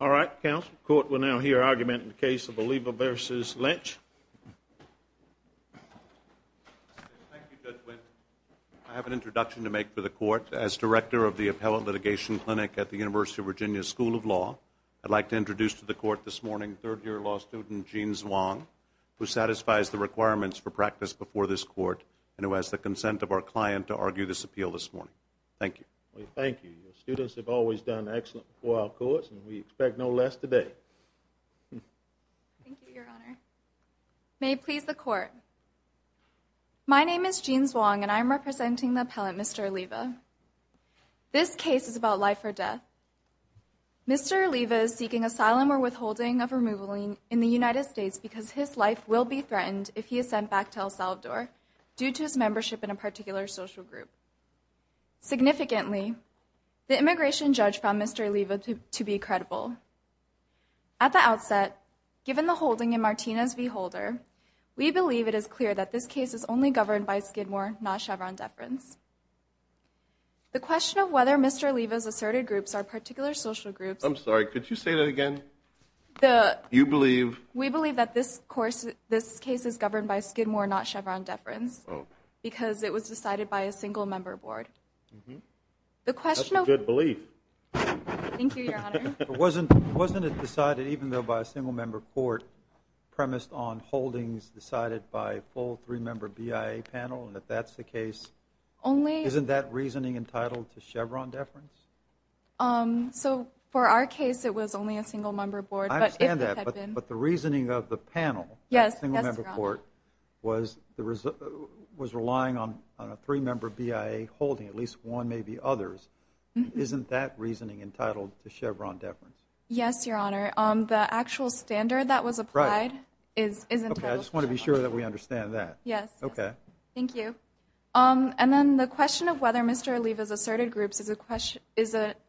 I have an introduction to make for the Court. As Director of the Appellate Litigation Clinic at the University of Virginia School of Law, I'd like to introduce to the Court this morning third-year law student Gene Zwang, who satisfies the requirements for practice before this Court and who has the consent of our client to argue this appeal this morning. Thank you. Thank you. Your students have always done excellent for our courts and we expect no less today. Thank you, Your Honor. May it please the Court. My name is Gene Zwang and I'm representing the appellant, Mr. Oliva. This case is about life or death. Mr. Oliva is seeking asylum or withholding of removal in the United States because his life will be threatened if he loses membership in a particular social group. Significantly, the immigration judge found Mr. Oliva to be credible. At the outset, given the holding in Martina's v. Holder, we believe it is clear that this case is only governed by Skidmore, not Chevron deference. The question of whether Mr. Oliva's asserted groups are particular social groups— I'm sorry, could you say that again? You believe— We believe that this case is governed by Skidmore, not Chevron deference because it was decided by a single-member board. The question of— That's a good belief. Thank you, Your Honor. Wasn't it decided even though by a single-member court premised on holdings decided by a full three-member BIA panel? And if that's the case, isn't that reasoning entitled to Chevron deference? So for our case, it was only a single-member board, but if it had been— But if the reasoning of the panel, the single-member court, was relying on a three-member BIA holding, at least one, maybe others, isn't that reasoning entitled to Chevron deference? Yes, Your Honor. The actual standard that was applied is entitled to Chevron deference. Okay, I just want to be sure that we understand that. Yes. Okay. Thank you. And then the question of whether Mr. Oliva's asserted groups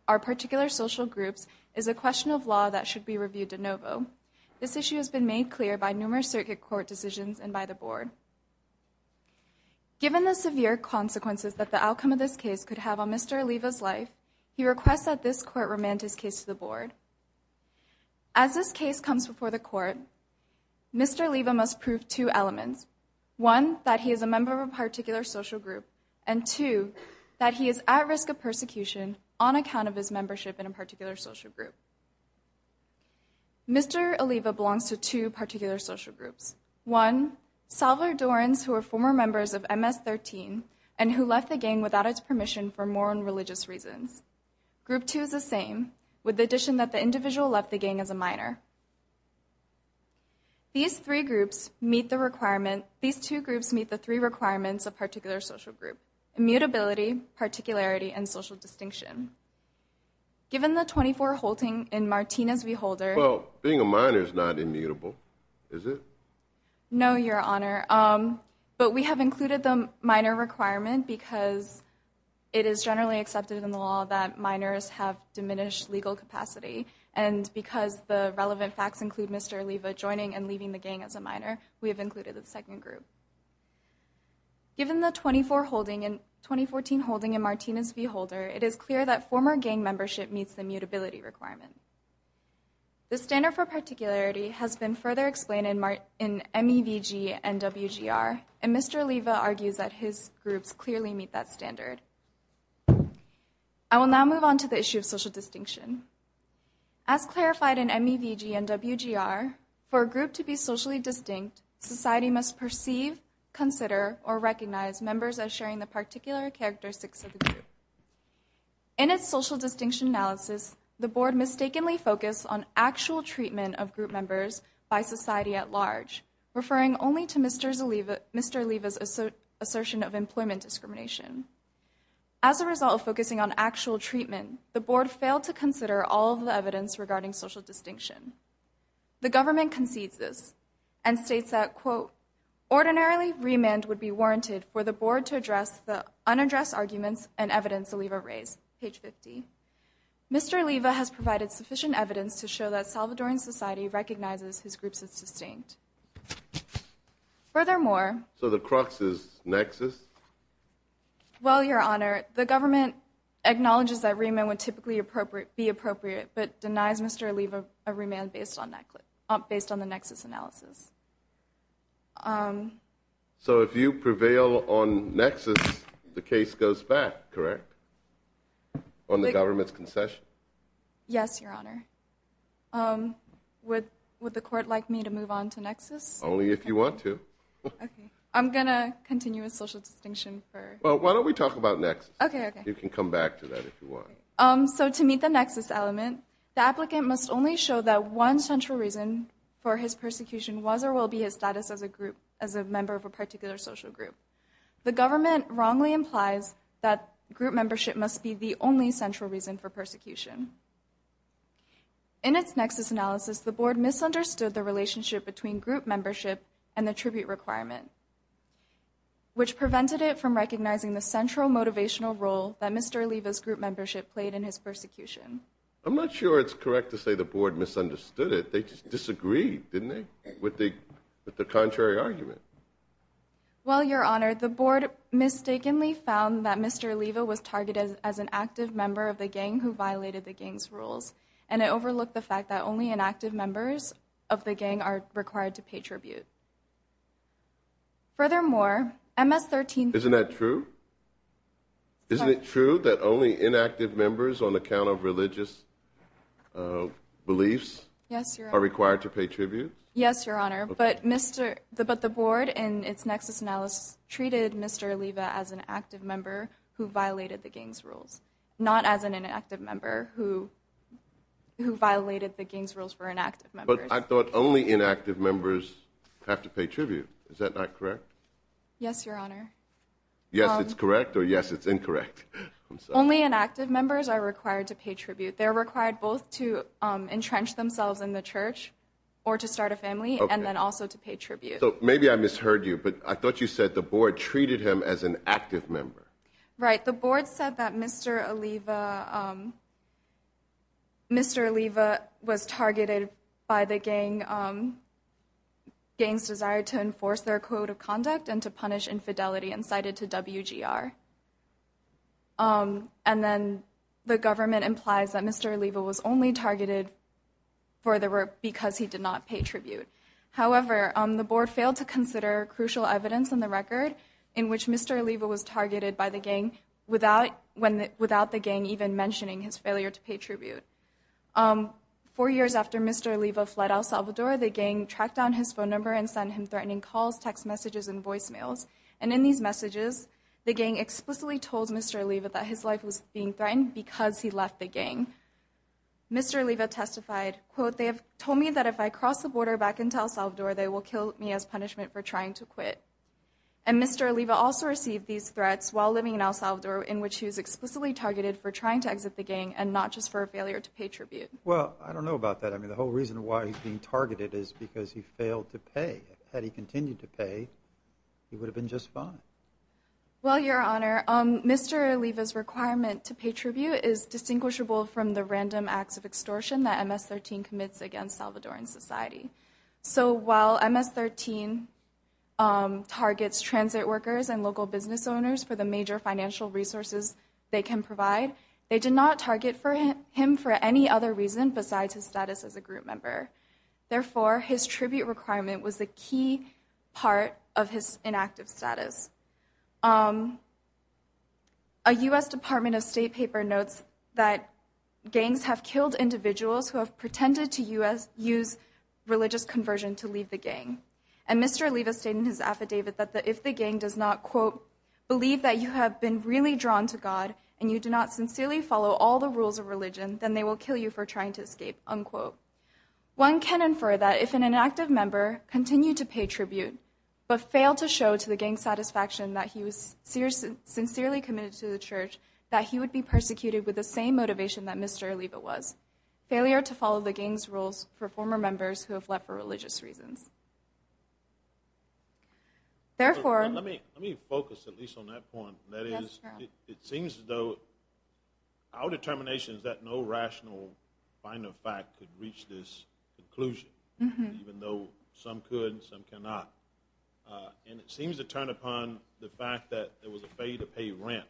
are particular social groups is a question of law that should be reviewed de novo. This issue has been made clear by numerous circuit court decisions and by the board. Given the severe consequences that the outcome of this case could have on Mr. Oliva's life, he requests that this court remand his case to the board. As this case comes before the court, Mr. Oliva must prove two elements. One, that he is a member of a particular social group, and two, that he is at risk of persecution on account of his membership in a particular social group. Mr. Oliva belongs to two particular social groups. One, Salvadorans who are former members of MS-13 and who left the gang without its permission for moral and religious reasons. Group two is the same, with the addition that the individual left the gang as a minor. These three groups meet the requirement—these two groups meet the three requirements of particularity and social distinction. Given the 24 holding in Martinez v. Holder— Well, being a minor is not immutable, is it? No, Your Honor. But we have included the minor requirement because it is generally accepted in the law that minors have diminished legal capacity. And because the relevant facts include Mr. Oliva joining and leaving the gang as a minor, we have included the second group. Given the 24 holding in—2014 holding in Martinez v. Holder, it is clear that former gang membership meets the mutability requirement. The standard for particularity has been further explained in MEVG and WGR, and Mr. Oliva argues that his groups clearly meet that standard. I will now move on to the issue of social distinction. As clarified in MEVG and WGR, for a group to be socially distinct, society must perceive, consider, or recognize members as sharing the particular characteristics of the group. In its social distinction analysis, the Board mistakenly focused on actual treatment of group members by society at large, referring only to Mr. Oliva's assertion of employment discrimination. As a result of focusing on actual treatment, the Board failed to consider all of the evidence regarding social distinction. The government concedes this, and states that, quote, ordinarily remand would be warranted for the Board to address the unaddressed arguments and evidence Oliva raised, page 50. Mr. Oliva has provided sufficient evidence to show that Salvadoran society recognizes his groups as distinct. Furthermore— So the crux is nexus? Well, Your Honor, the government acknowledges that remand would typically be appropriate, but denies Mr. Oliva a remand based on the nexus analysis. So if you prevail on nexus, the case goes back, correct? On the government's concession? Yes, Your Honor. Would the Court like me to move on to nexus? Only if you want to. I'm going to continue with social distinction for— Well, why don't we talk about nexus? You can come back to that if you want. Okay. So to meet the nexus element, the applicant must only show that one central reason for his persecution was or will be his status as a member of a particular social group. The government wrongly implies that group membership must be the only central reason for persecution. In its nexus analysis, the Board misunderstood the relationship between group membership and the tribute requirement, which prevented it from recognizing the central motivational role that Mr. Oliva's group membership played in his persecution. I'm not sure it's correct to say the Board misunderstood it. They just disagreed, didn't they, with the contrary argument? Well, Your Honor, the Board mistakenly found that Mr. Oliva was targeted as an active member of the gang who violated the gang's rules, and it overlooked the fact that only inactive members of the gang are required to pay tribute. Furthermore, MS-13— Isn't that true? Isn't it true that only inactive members on account of religious beliefs are required to pay tribute? Yes, Your Honor, but the Board in its nexus analysis treated Mr. Oliva as an active member who violated the gang's rules, not as an inactive member who violated the gang's rules for inactive members. But I thought only inactive members have to pay tribute. Is that not correct? Yes, Your Honor. Yes, it's correct, or yes, it's incorrect? Only inactive members are required to pay tribute. They're required both to entrench themselves in the church or to start a family, and then also to pay tribute. So maybe I misheard you, but I thought you said the Board treated him as an active member. Right. The Board said that Mr. Oliva was targeted by the gang's desire to enforce their code of conduct and to punish infidelity and cited to WGR. And then the government implies that Mr. Oliva was only targeted for the work because he did not pay tribute. However, the Board failed to consider crucial evidence in the record in which Mr. Oliva was targeted by the gang without the gang even mentioning his failure to pay tribute. Four years after Mr. Oliva fled El Salvador, the gang tracked down his phone number and sent him threatening calls, text messages, and voicemails. And in these messages, the gang explicitly told Mr. Oliva that his life was being threatened because he left the gang. Mr. Oliva testified, quote, They have told me that if I cross the border back into El Salvador, they will kill me as punishment for trying to quit. And Mr. Oliva also received these threats while living in El Salvador, in which he was explicitly targeted for trying to exit the gang and not just for a failure to pay tribute. Well, I don't know about that. I mean, the whole reason why he's being targeted is because he failed to pay. Had he continued to pay, he would have been just fine. Well, Your Honor, Mr. Oliva's requirement to pay tribute is distinguishable from the random acts of extortion that MS-13 commits against Salvadoran society. So while MS-13 targets transit workers and local business owners for the major financial resources they can provide, they did not target him for any other reason besides his status as a group member. Therefore, his tribute requirement was a key part of his inactive status. A U.S. Department of State paper notes that gangs have killed individuals who have pretended to use religious conversion to leave the gang. And Mr. Oliva stated in his affidavit that if the gang does not, quote, believe that you have been really drawn to God and you do not sincerely follow all the rules of religion, then they will kill you for trying to escape, unquote. One can infer that if an inactive member continued to pay tribute, but failed to show to the gang's satisfaction that he was sincerely committed to the church, that he would be persecuted with the same motivation that Mr. Oliva was. Failure to follow the gang's rules for former members who have left for religious reasons. Therefore... Let me focus at least on that point. That is, it seems as though our determination is that no rational, final fact could reach this conclusion, even though some could and some cannot. And it seems to turn upon the fact that there was a pay to pay ramp.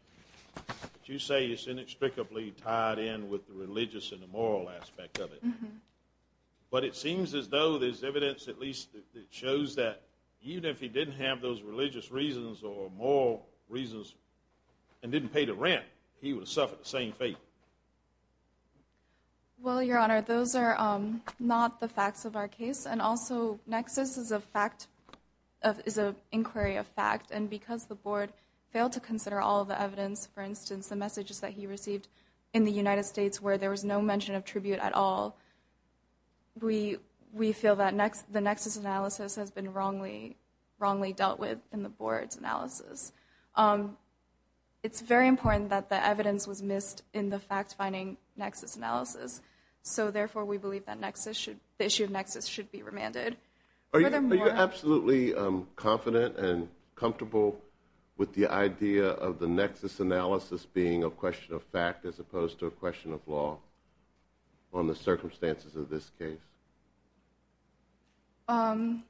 You say it's inextricably tied in with the religious and the moral aspect of it. But it seems as though there's evidence at least that shows that even if he didn't have those religious reasons or moral reasons and didn't pay the rent, he would have suffered the same fate. Well, Your Honor, those are not the facts of our case. And also, Nexus is a fact, is an inquiry of fact. And because the board failed to consider all the evidence, for instance, the messages that he received in the United States where there was no mention of tribute at all, we feel that the Nexus analysis has been wrongly dealt with in the board's analysis. It's very important that the evidence was missed in the fact-finding Nexus analysis. So therefore, we believe that the issue of Nexus should be remanded. Are you absolutely confident and comfortable with the idea of the Nexus analysis being a question of fact as opposed to a question of law on the circumstances of this case? In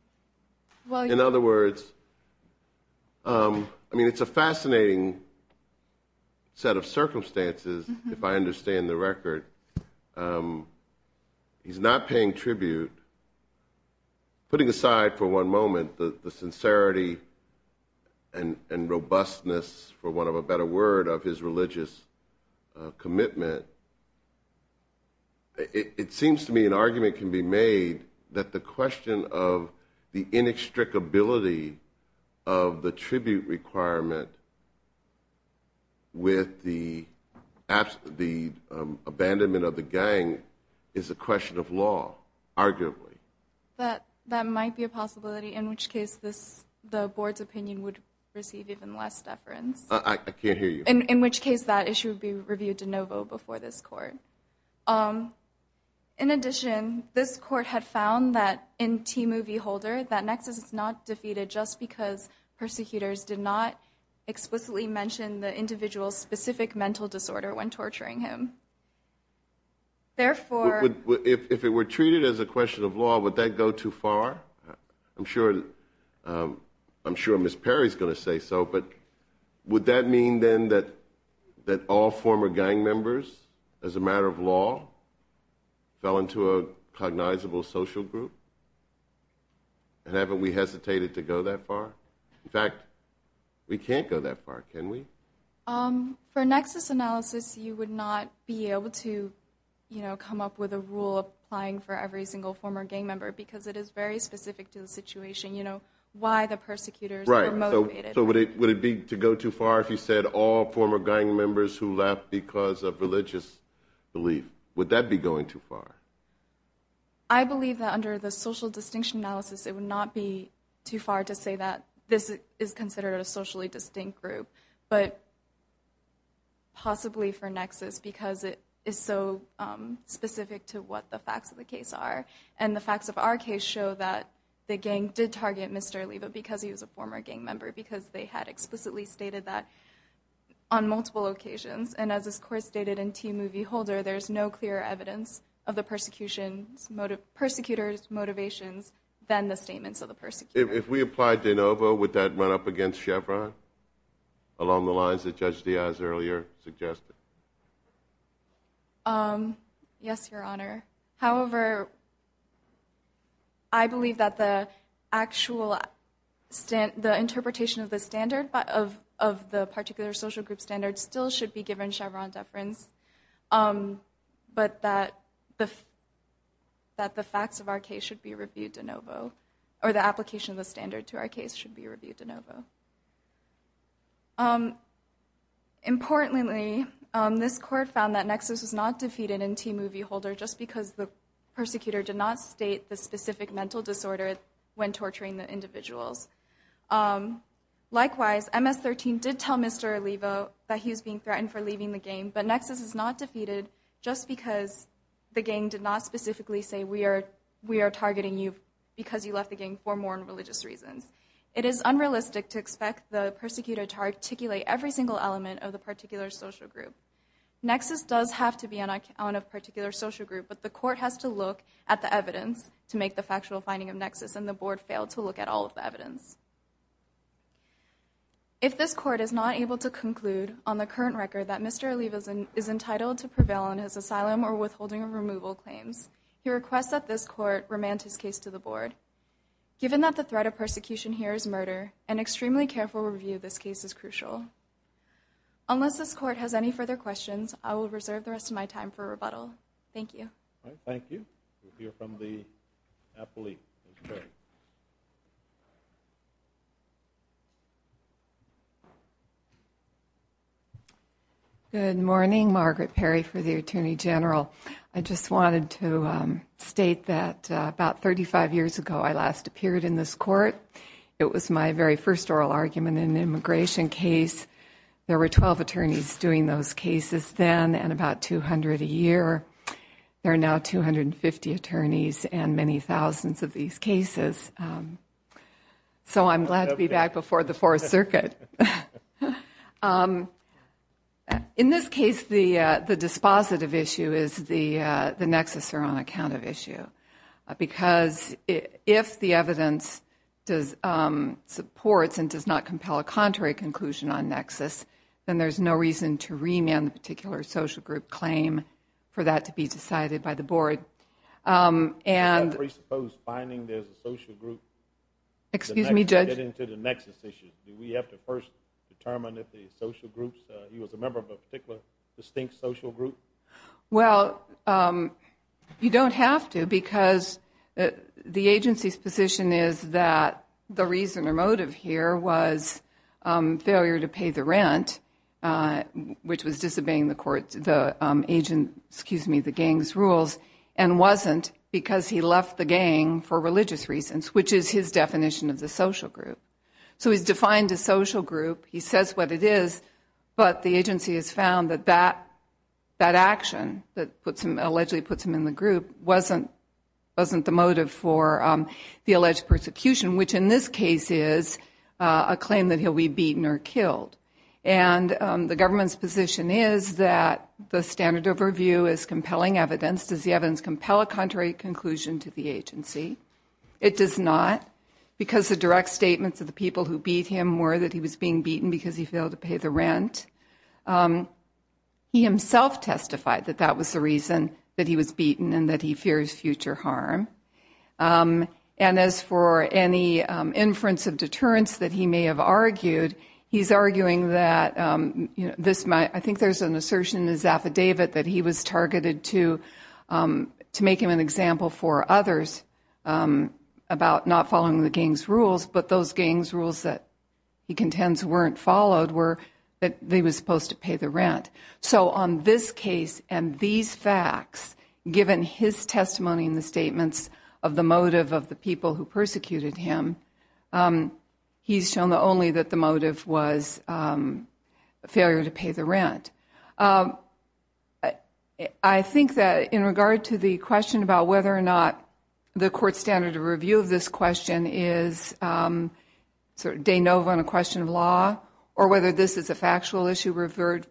other words, it's a fascinating set of circumstances, if I understand the record. He's not paying tribute. Putting aside for one moment the sincerity and robustness, for want of a better word, of his religious commitment, it seems to me an argument can be made that the question of the inextricability of the tribute requirement with the abandonment of the gang is a question of law, arguably. That might be a possibility, in which case the board's opinion would receive even less deference. I can't hear you. In which case that issue would be reviewed de novo before this court. In addition, this court had found that in T-Movie Holder, that Nexus is not defeated just because the persecutors did not explicitly mention the individual's specific mental disorder when torturing him. If it were treated as a question of law, would that go too far? I'm sure Ms. Perry's going to say so, but would that mean then that all former gang members, as a matter of law, fell into a cognizable social group? And haven't we hesitated to go that far? In fact, we can't go that far, can we? For Nexus analysis, you would not be able to come up with a rule applying for every single former gang member, because it is very specific to the situation, you know, why the persecutors were motivated. So would it be to go too far if you said all former gang members who left because of religious belief? Would that be going too far? I believe that under the social distinction analysis, it would not be too far to say that this is considered a socially distinct group, but possibly for Nexus because it is so specific to what the facts of the case are. And the facts of our case show that the gang did target Mr. Oliva because he was a former gang member, because they had explicitly stated that on multiple occasions. And as this course stated in T-Movie Holder, there is no clearer evidence of the persecutors' motivations than the statements of the persecutors. If we apply De Novo, would that run up against Chevron, along the lines that Judge Diaz earlier suggested? Yes, Your Honor. However, I believe that the interpretation of the particular social group standard still should be given Chevron deference, but that the facts of our case should be reviewed De Novo, or the application of the standard to our case should be reviewed De Novo. Importantly, this court found that Nexus was not defeated in T-Movie Holder just because the persecutor did not state the specific mental disorder when torturing the individuals. Likewise, MS-13 did tell Mr. Oliva that he was being threatened for leaving the gang, but Nexus is not defeated just because the gang did not specifically say, we are targeting you because you left the gang for moral and religious reasons. It is unrealistic to expect the persecutor to articulate every single element of the particular social group. Nexus does have to be on account of a particular social group, but the court has to look at the evidence to make the factual finding of Nexus, and the board failed to look at all of the evidence. If this court is not able to conclude on the current record that Mr. Oliva is entitled to prevail on his asylum or withholding of removal claims, he requests that this court remand his case to the board. Given that the threat of persecution here is murder, an extremely careful review of this case is crucial. Unless this court has any further questions, I will reserve the rest of my time for rebuttal. Thank you. Thank you. We'll hear from the appellee. Good morning. Margaret Perry for the Attorney General. I just wanted to state that about 35 years ago I last appeared in this court. It was my very first oral argument in an immigration case. There were 12 attorneys doing those cases then and about 200 a year. There are now 250 attorneys and many thousands of these cases. So I'm glad to be back before the Fourth Circuit. In this case, the dispositive issue is the Nexus are on account of issue. Because if the evidence supports and does not compel a contrary conclusion on Nexus, then there's no reason to remand the particular social group claim for that to be decided by the board. Do you have to presuppose finding there's a social group to get into the Nexus issue? Do we have to first determine if the social groups, he was a member of a particular distinct social group? Well, you don't have to because the agency's position is that the reason or motive here was failure to pay the rent, which was disobeying the gang's rules, and wasn't because he left the gang for religious reasons, which is his definition of the social group. So he's defined a social group. He says what it is. But the agency has found that that action that allegedly puts him in the group wasn't the motive for the alleged persecution, which in this case is a claim that he'll be beaten or killed. And the government's position is that the standard of review is compelling evidence. Does the evidence compel a contrary conclusion to the agency? It does not because the direct statements of the people who beat him were that he was being beaten because he failed to pay the rent. He himself testified that that was the reason that he was beaten and that he fears future harm. And as for any inference of deterrence that he may have argued, he's arguing that this might, I think there's an assertion in his affidavit that he was targeted to make him an example for others about not following the gang's rules, but those gang's rules that he contends weren't followed were that he was supposed to pay the rent. So on this case and these facts, given his testimony in the statements of the motive of the people who persecuted him, he's shown only that the motive was failure to pay the rent. I think that in regard to the question about whether or not the court standard of review of this question is sort of de novo in a question of law, or whether this is a factual issue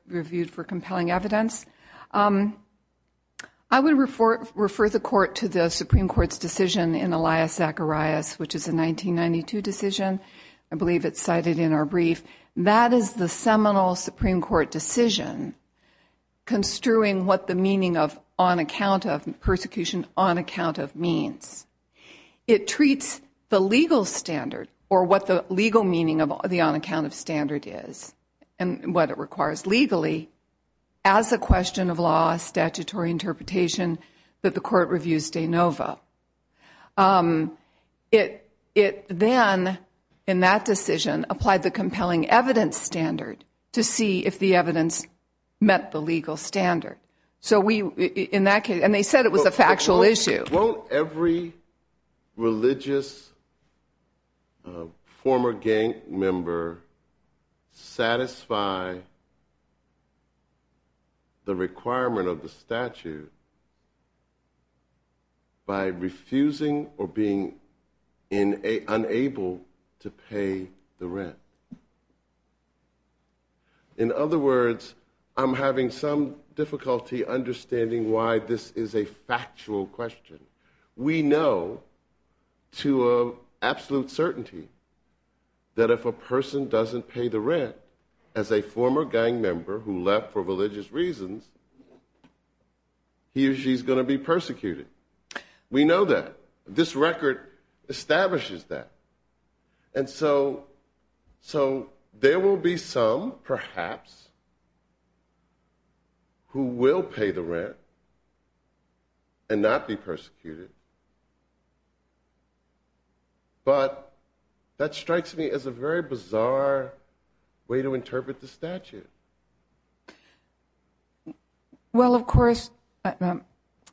reviewed for compelling evidence, I would refer the court to the Supreme Court's decision in Elias Zacharias, which is a 1992 decision. I believe it's cited in our brief. That is the seminal Supreme Court decision construing what the meaning of on account of persecution, on account of means. It treats the legal standard, or what the legal meaning of the on account of standard is, and what it requires legally, as a question of law, statutory interpretation, that the court reviews de novo. It then, in that decision, applied the compelling evidence standard to see if the evidence met the legal standard. In that case, and they said it was a factual issue. Won't every religious former gang member satisfy the requirement of the statute by refusing or being unable to pay the rent? In other words, I'm having some difficulty understanding why this is a factual question. We know to absolute certainty that if a person doesn't pay the rent, as a former gang member who left for religious reasons, he or she is going to be persecuted. We know that. This record establishes that. And so, there will be some, perhaps, who will pay the rent, and not be persecuted. But, that strikes me as a very bizarre way to interpret the statute. Well, of course. And,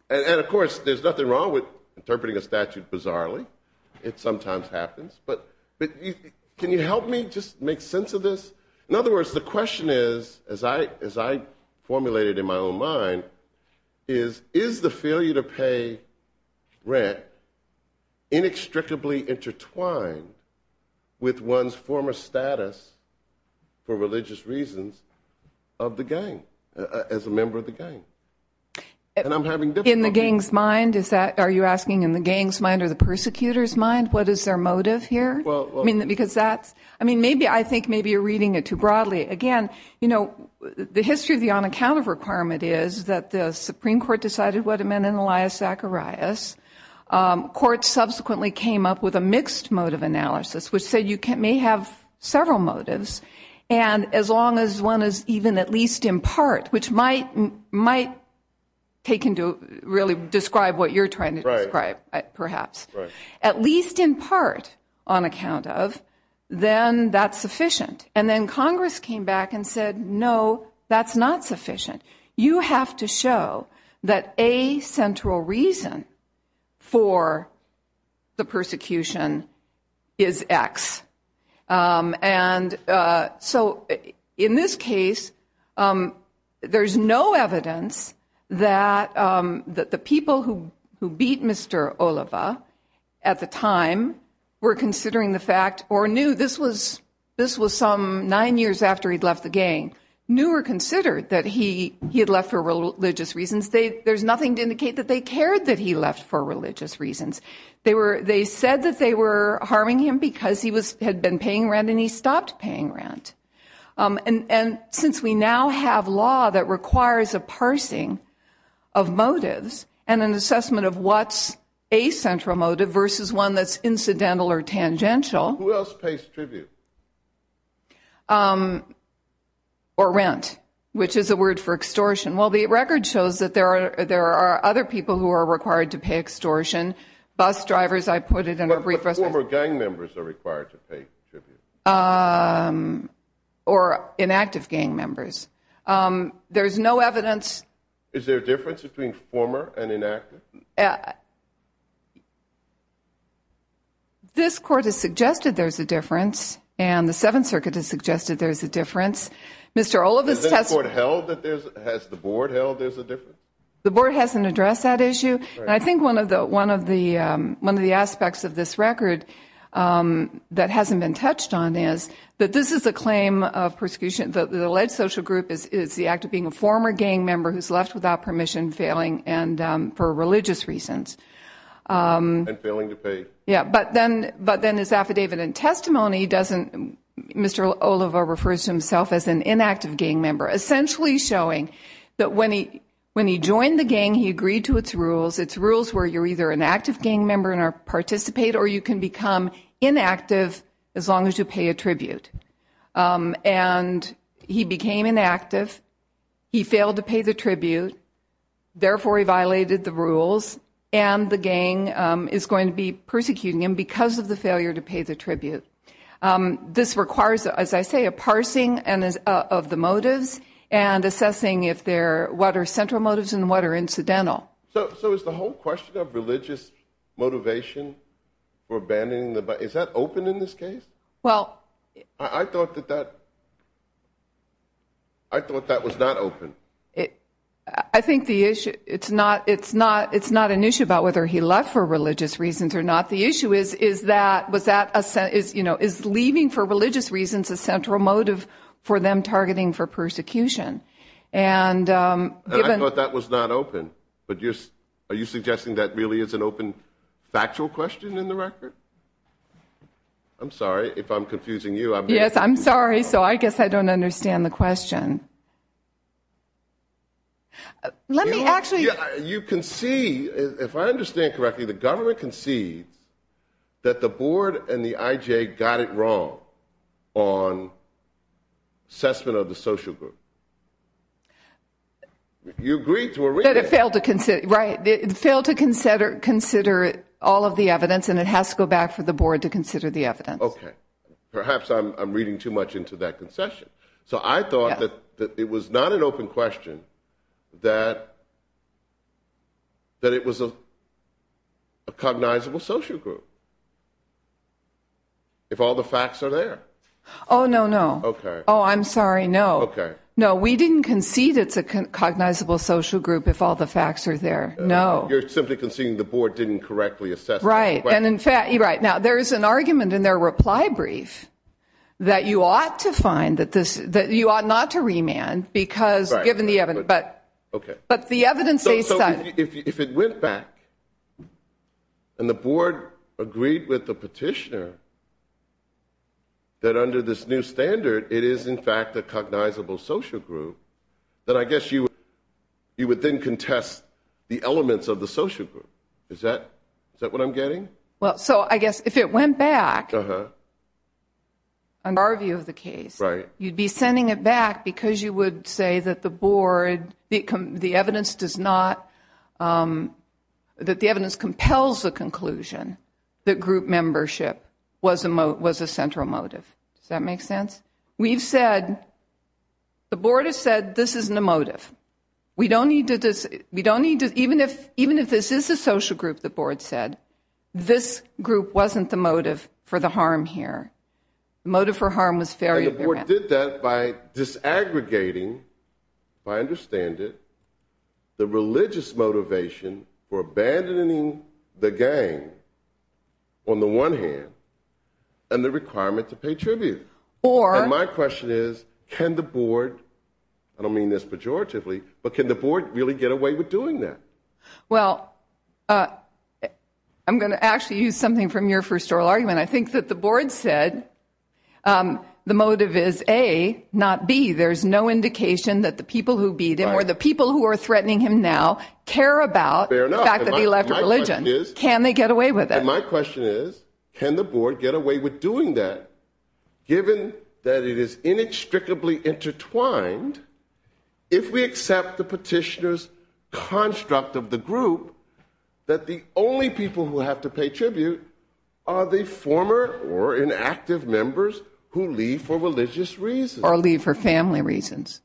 of course, there's nothing wrong with interpreting a statute bizarrely. It sometimes happens. But, can you help me just make sense of this? In other words, the question is, as I formulated in my own mind, is, is the failure to pay rent inextricably intertwined with one's former status, for religious reasons, of the gang, as a member of the gang? In the gang's mind, is that, are you asking in the gang's mind or the persecutor's mind, what is their motive here? I mean, because that's, I mean, maybe, I think maybe you're reading it too broadly. Again, you know, the history of the on-account of requirement is that the Supreme Court decided what it meant in Elias Zacharias. Court subsequently came up with a mixed motive analysis, which said you may have several motives. And, as long as one is even at least in part, which might take into, really, describe what you're trying to describe, perhaps. At least in part, on account of, then that's sufficient. And then Congress came back and said, no, that's not sufficient. You have to show that a central reason for the persecution is X. And so, in this case, there's no evidence that the people who beat Mr. Oliva at the time were considering the fact, or knew, this was some nine years after he'd left the gang, knew or considered that he had left for religious reasons. There's nothing to indicate that they cared that he left for religious reasons. They said that they were harming him because he had been paying rent and he stopped paying rent. And since we now have law that requires a parsing of motives and an assessment of what's a central motive versus one that's incidental or tangential. Who else pays tribute? Or rent, which is a word for extortion. Well, the record shows that there are other people who are required to pay extortion. Bus drivers, I put it in a brief. But former gang members are required to pay tribute. Or inactive gang members. Is there a difference between former and inactive? This court has suggested there's a difference. And the Seventh Circuit has suggested there's a difference. Has the board held that there's a difference? The board hasn't addressed that issue. And I think one of the aspects of this record that hasn't been touched on is that this is a claim of persecution. The alleged social group is the act of being a former gang member who's left without permission, failing for religious reasons. And failing to pay. Yeah, but then his affidavit and testimony doesn't, Mr. Oliva refers to himself as an inactive gang member. Essentially showing that when he joined the gang, he agreed to its rules. It's rules where you're either an active gang member and participate or you can become inactive as long as you pay a tribute. And he became inactive. He failed to pay the tribute. Therefore, he violated the rules. And the gang is going to be persecuting him because of the failure to pay the tribute. This requires, as I say, a parsing of the motives and assessing what are central motives and what are incidental. So is the whole question of religious motivation for abandoning the body, is that open in this case? I thought that that was not open. I think the issue, it's not an issue about whether he left for religious reasons or not. The issue is, is leaving for religious reasons a central motive for them targeting for persecution? And I thought that was not open. But are you suggesting that really is an open factual question in the record? I'm sorry if I'm confusing you. Yes, I'm sorry. So I guess I don't understand the question. Let me actually. You can see, if I understand correctly, the government concedes that the board and the IJ got it wrong on assessment of the social group. You agreed to a reading. It failed to consider all of the evidence, and it has to go back for the board to consider the evidence. Okay. Perhaps I'm reading too much into that concession. So I thought that it was not an open question, that it was a cognizable social group, if all the facts are there. Oh, no, no. Okay. Oh, I'm sorry, no. Okay. No, we didn't concede it's a cognizable social group if all the facts are there. No. You're simply conceding the board didn't correctly assess it. Right. And in fact, right. Now, there is an argument in their reply brief that you ought to find that this, that you ought not to remand because given the evidence. Right. Okay. But the evidence they said. If it went back and the board agreed with the petitioner that under this new standard it is in fact a cognizable social group, then I guess you would then contest the elements of the social group. Is that what I'm getting? Well, so I guess if it went back. Uh-huh. In our view of the case. Right. You'd be sending it back because you would say that the board, the evidence does not, that the evidence compels the conclusion that group membership was a central motive. Does that make sense? We've said, the board has said this isn't a motive. We don't need to, even if this is a social group, the board said, this group wasn't the motive for the harm here. The motive for harm was fairly apparent. And the board did that by disaggregating, if I understand it, the religious motivation for abandoning the gang on the one hand, and the requirement to pay tribute. Or. And my question is, can the board, I don't mean this pejoratively, but can the board really get away with doing that? Well, I'm going to actually use something from your first oral argument. I think that the board said the motive is A, not B. There's no indication that the people who beat him or the people who are threatening him now care about the fact that he left religion. Can they get away with it? And my question is, can the board get away with doing that, given that it is inextricably intertwined, if we accept the petitioner's construct of the group, that the only people who have to pay tribute are the former or inactive members who leave for religious reasons. Or leave for family reasons.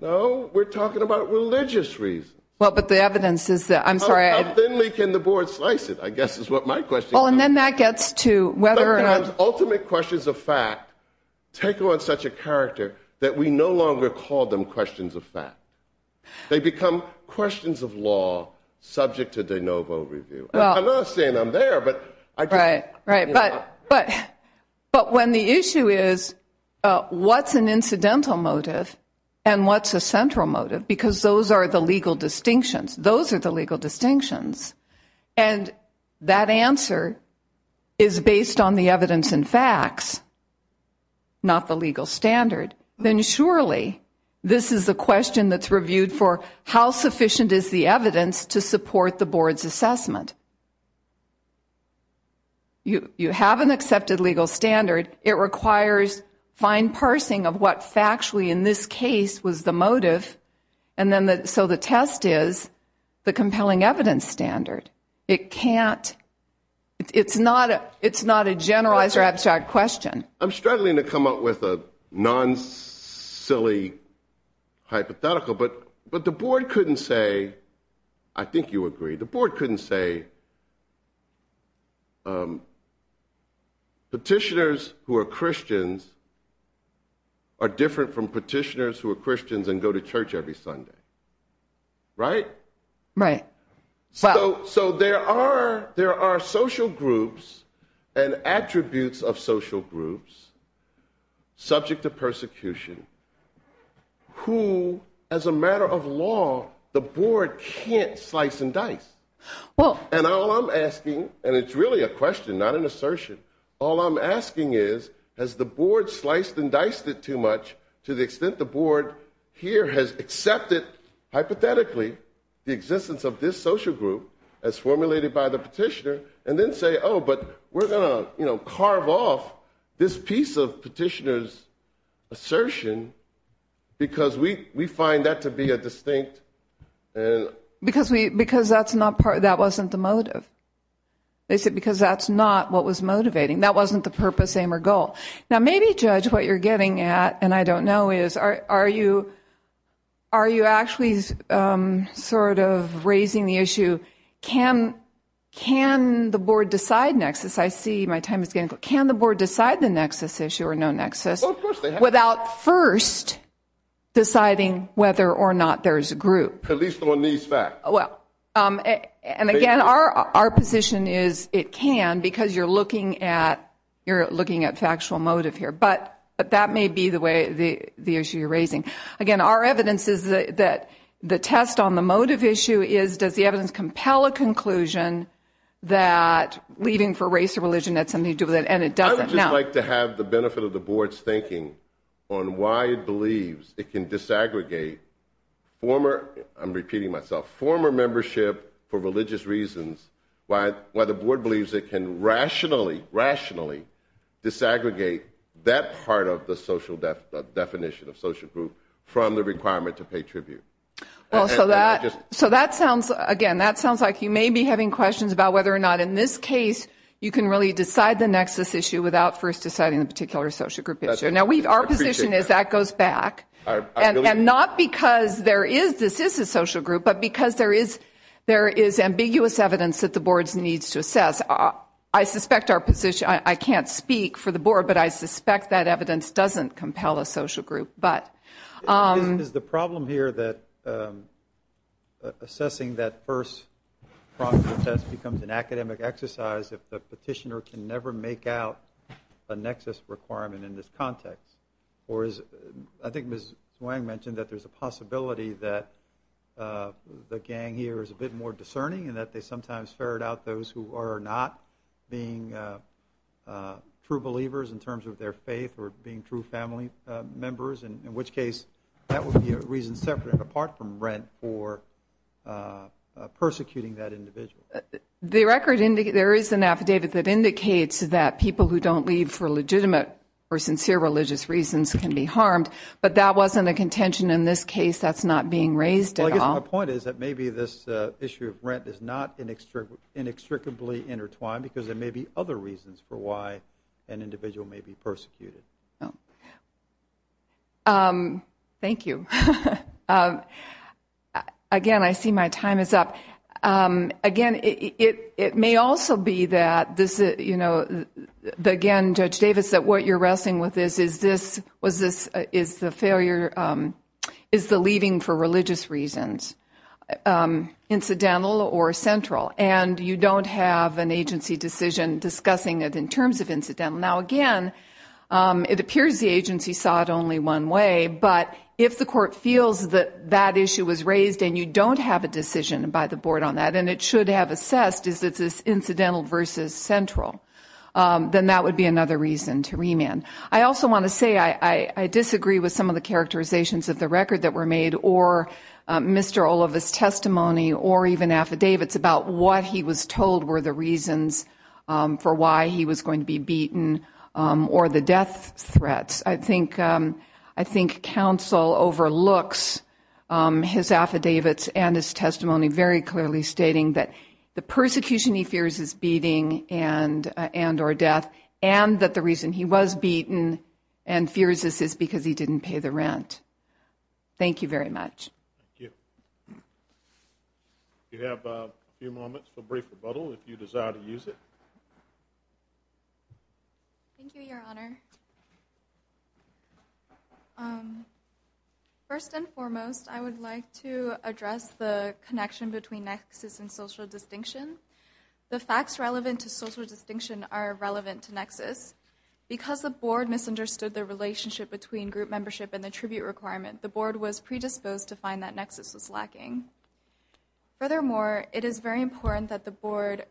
No, we're talking about religious reasons. Well, but the evidence is that, I'm sorry. How thinly can the board slice it, I guess is what my question is. Well, and then that gets to whether or not. Ultimate questions of fact take on such a character that we no longer call them questions of fact. They become questions of law subject to de novo review. I'm not saying I'm there, but. Right, right. But when the issue is, what's an incidental motive and what's a central motive, because those are the legal distinctions. Those are the legal distinctions. And that answer is based on the evidence and facts, not the legal standard. Then surely this is a question that's reviewed for how sufficient is the evidence to support the board's assessment. You have an accepted legal standard. It requires fine parsing of what factually in this case was the motive. So the test is the compelling evidence standard. It can't, it's not a generalized or abstract question. I'm struggling to come up with a non-silly hypothetical. But the board couldn't say, I think you agree. The board couldn't say. Petitioners who are Christians. Are different from petitioners who are Christians and go to church every Sunday. Right. Right. So, so there are, there are social groups and attributes of social groups. Subject to persecution. Who, as a matter of law, the board can't slice and dice. Well, and all I'm asking, and it's really a question, not an assertion. All I'm asking is, has the board sliced and diced it too much to the extent the board here has accepted hypothetically the existence of this social group as formulated by the petitioner and then say, oh, but we're going to carve off this piece of petitioners assertion. Because we we find that to be a distinct. Because we because that's not part of that wasn't the motive. They said because that's not what was motivating. That wasn't the purpose, aim or goal. Now, maybe judge what you're getting at. And I don't know is are you. Are you actually sort of raising the issue? Can can the board decide nexus? I see my time is getting. Can the board decide the nexus issue or no nexus without first deciding whether or not there is a group at least on these facts? Well, and again, our our position is it can because you're looking at you're looking at factual motive here. But but that may be the way the the issue you're raising again. Our evidence is that the test on the motive issue is does the evidence compel a conclusion that leading for race or religion that's something to do with it? And it doesn't like to have the benefit of the board's thinking on why it believes it can disaggregate. Former I'm repeating myself, former membership for religious reasons. Why? Why? The board believes it can rationally rationally disaggregate that part of the social definition of social group from the requirement to pay tribute. So that just so that sounds again, that sounds like you may be having questions about whether or not in this case, you can really decide the nexus issue without first deciding the particular social group. Now, we've our position is that goes back and not because there is this is a social group, but because there is there is ambiguous evidence that the boards needs to assess. I suspect our position. I can't speak for the board, but I suspect that evidence doesn't compel a social group. Is the problem here that assessing that first becomes an academic exercise if the petitioner can never make out a nexus requirement in this context? Or is I think Ms. Wang mentioned that there's a possibility that the gang here is a bit more discerning and that they sometimes ferret out those who are not being true believers in terms of their faith or being true family members. And in which case, that would be a reason separate and apart from rent for persecuting that individual. The record indicate there is an affidavit that indicates that people who don't leave for legitimate or sincere religious reasons can be harmed. But that wasn't a contention in this case. That's not being raised at all. My point is that maybe this issue of rent is not inextricably intertwined because there may be other reasons for why an individual may be persecuted. Thank you. Again, I see my time is up. Again, it may also be that, again, Judge Davis, that what you're wrestling with is the leaving for religious reasons, incidental or central. And you don't have an agency decision discussing it in terms of incidental. Now, again, it appears the agency saw it only one way. But if the court feels that that issue was raised and you don't have a decision by the board on that, and it should have assessed, is this incidental versus central, then that would be another reason to remand. I also want to say I disagree with some of the characterizations of the record that were made or Mr. Oliva's testimony or even affidavits about what he was told were the reasons for why he was going to be beaten or the death threats. I think counsel overlooks his affidavits and his testimony very clearly stating that the persecution he fears is beating and or death and that the reason he was beaten and fears this is because he didn't pay the rent. Thank you very much. Thank you. You have a few moments for brief rebuttal if you desire to use it. Thank you, Your Honor. First and foremost, I would like to address the connection between nexus and social distinction. The facts relevant to social distinction are relevant to nexus. Because the board misunderstood the relationship between group membership and the tribute requirement, the board was predisposed to find that nexus was lacking. Furthermore, it is very important that the board,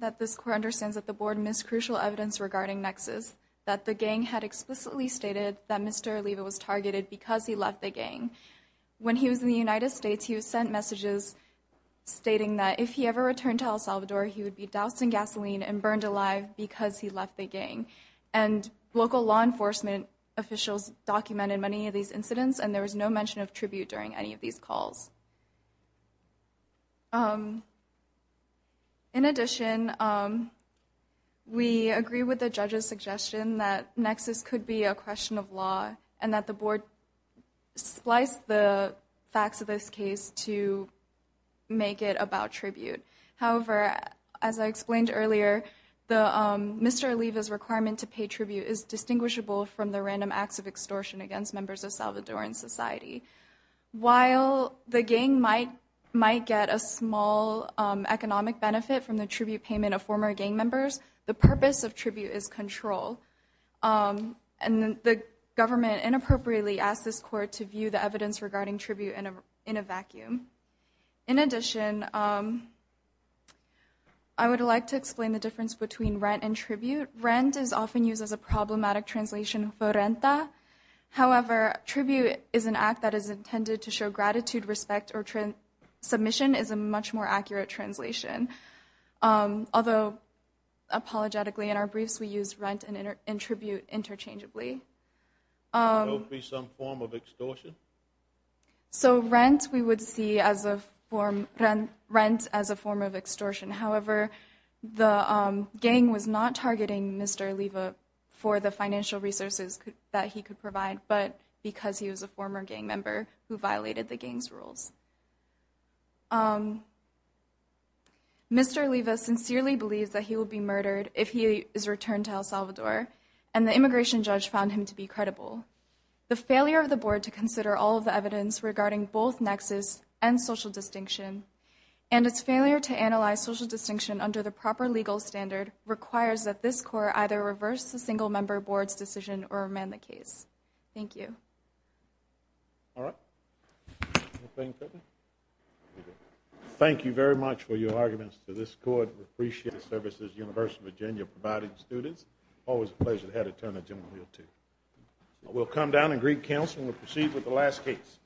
that this court understands that the board missed crucial evidence regarding nexus, that the gang had explicitly stated that Mr. Oliva was targeted because he left the gang. When he was in the United States, he was sent messages stating that if he ever returned to El Salvador, he would be doused in gasoline and burned alive because he left the gang. And local law enforcement officials documented many of these incidents and there was no mention of tribute during any of these calls. In addition, we agree with the judge's suggestion that nexus could be a question of law and that the board spliced the facts of this case to make it about tribute. However, as I explained earlier, Mr. Oliva's requirement to pay tribute is distinguishable from the random acts of extortion against members of Salvadoran society. While the gang might get a small economic benefit from the tribute payment of former gang members, the purpose of tribute is control. And the government inappropriately asked this court to view the evidence regarding tribute in a vacuum. In addition, I would like to explain the difference between rent and tribute. Rent is often used as a problematic translation for renta. However, tribute is an act that is intended to show gratitude, respect, or submission is a much more accurate translation. Although, apologetically in our briefs, we use rent and tribute interchangeably. So it would be some form of extortion? So rent we would see as a form of extortion. However, the gang was not targeting Mr. Oliva for the financial resources that he could provide, but because he was a former gang member who violated the gang's rules. Mr. Oliva sincerely believes that he will be murdered if he is returned to El Salvador, and the immigration judge found him to be credible. The failure of the board to consider all of the evidence regarding both nexus and social distinction, and its failure to analyze social distinction under the proper legal standard, requires that this court either reverse the single member board's decision or amend the case. Thank you. All right. Anything further? Thank you very much for your arguments to this court. We appreciate the services the University of Virginia provided students. Always a pleasure to have a turn on General Hill 2. We'll come down and greet counsel and we'll proceed with the last case.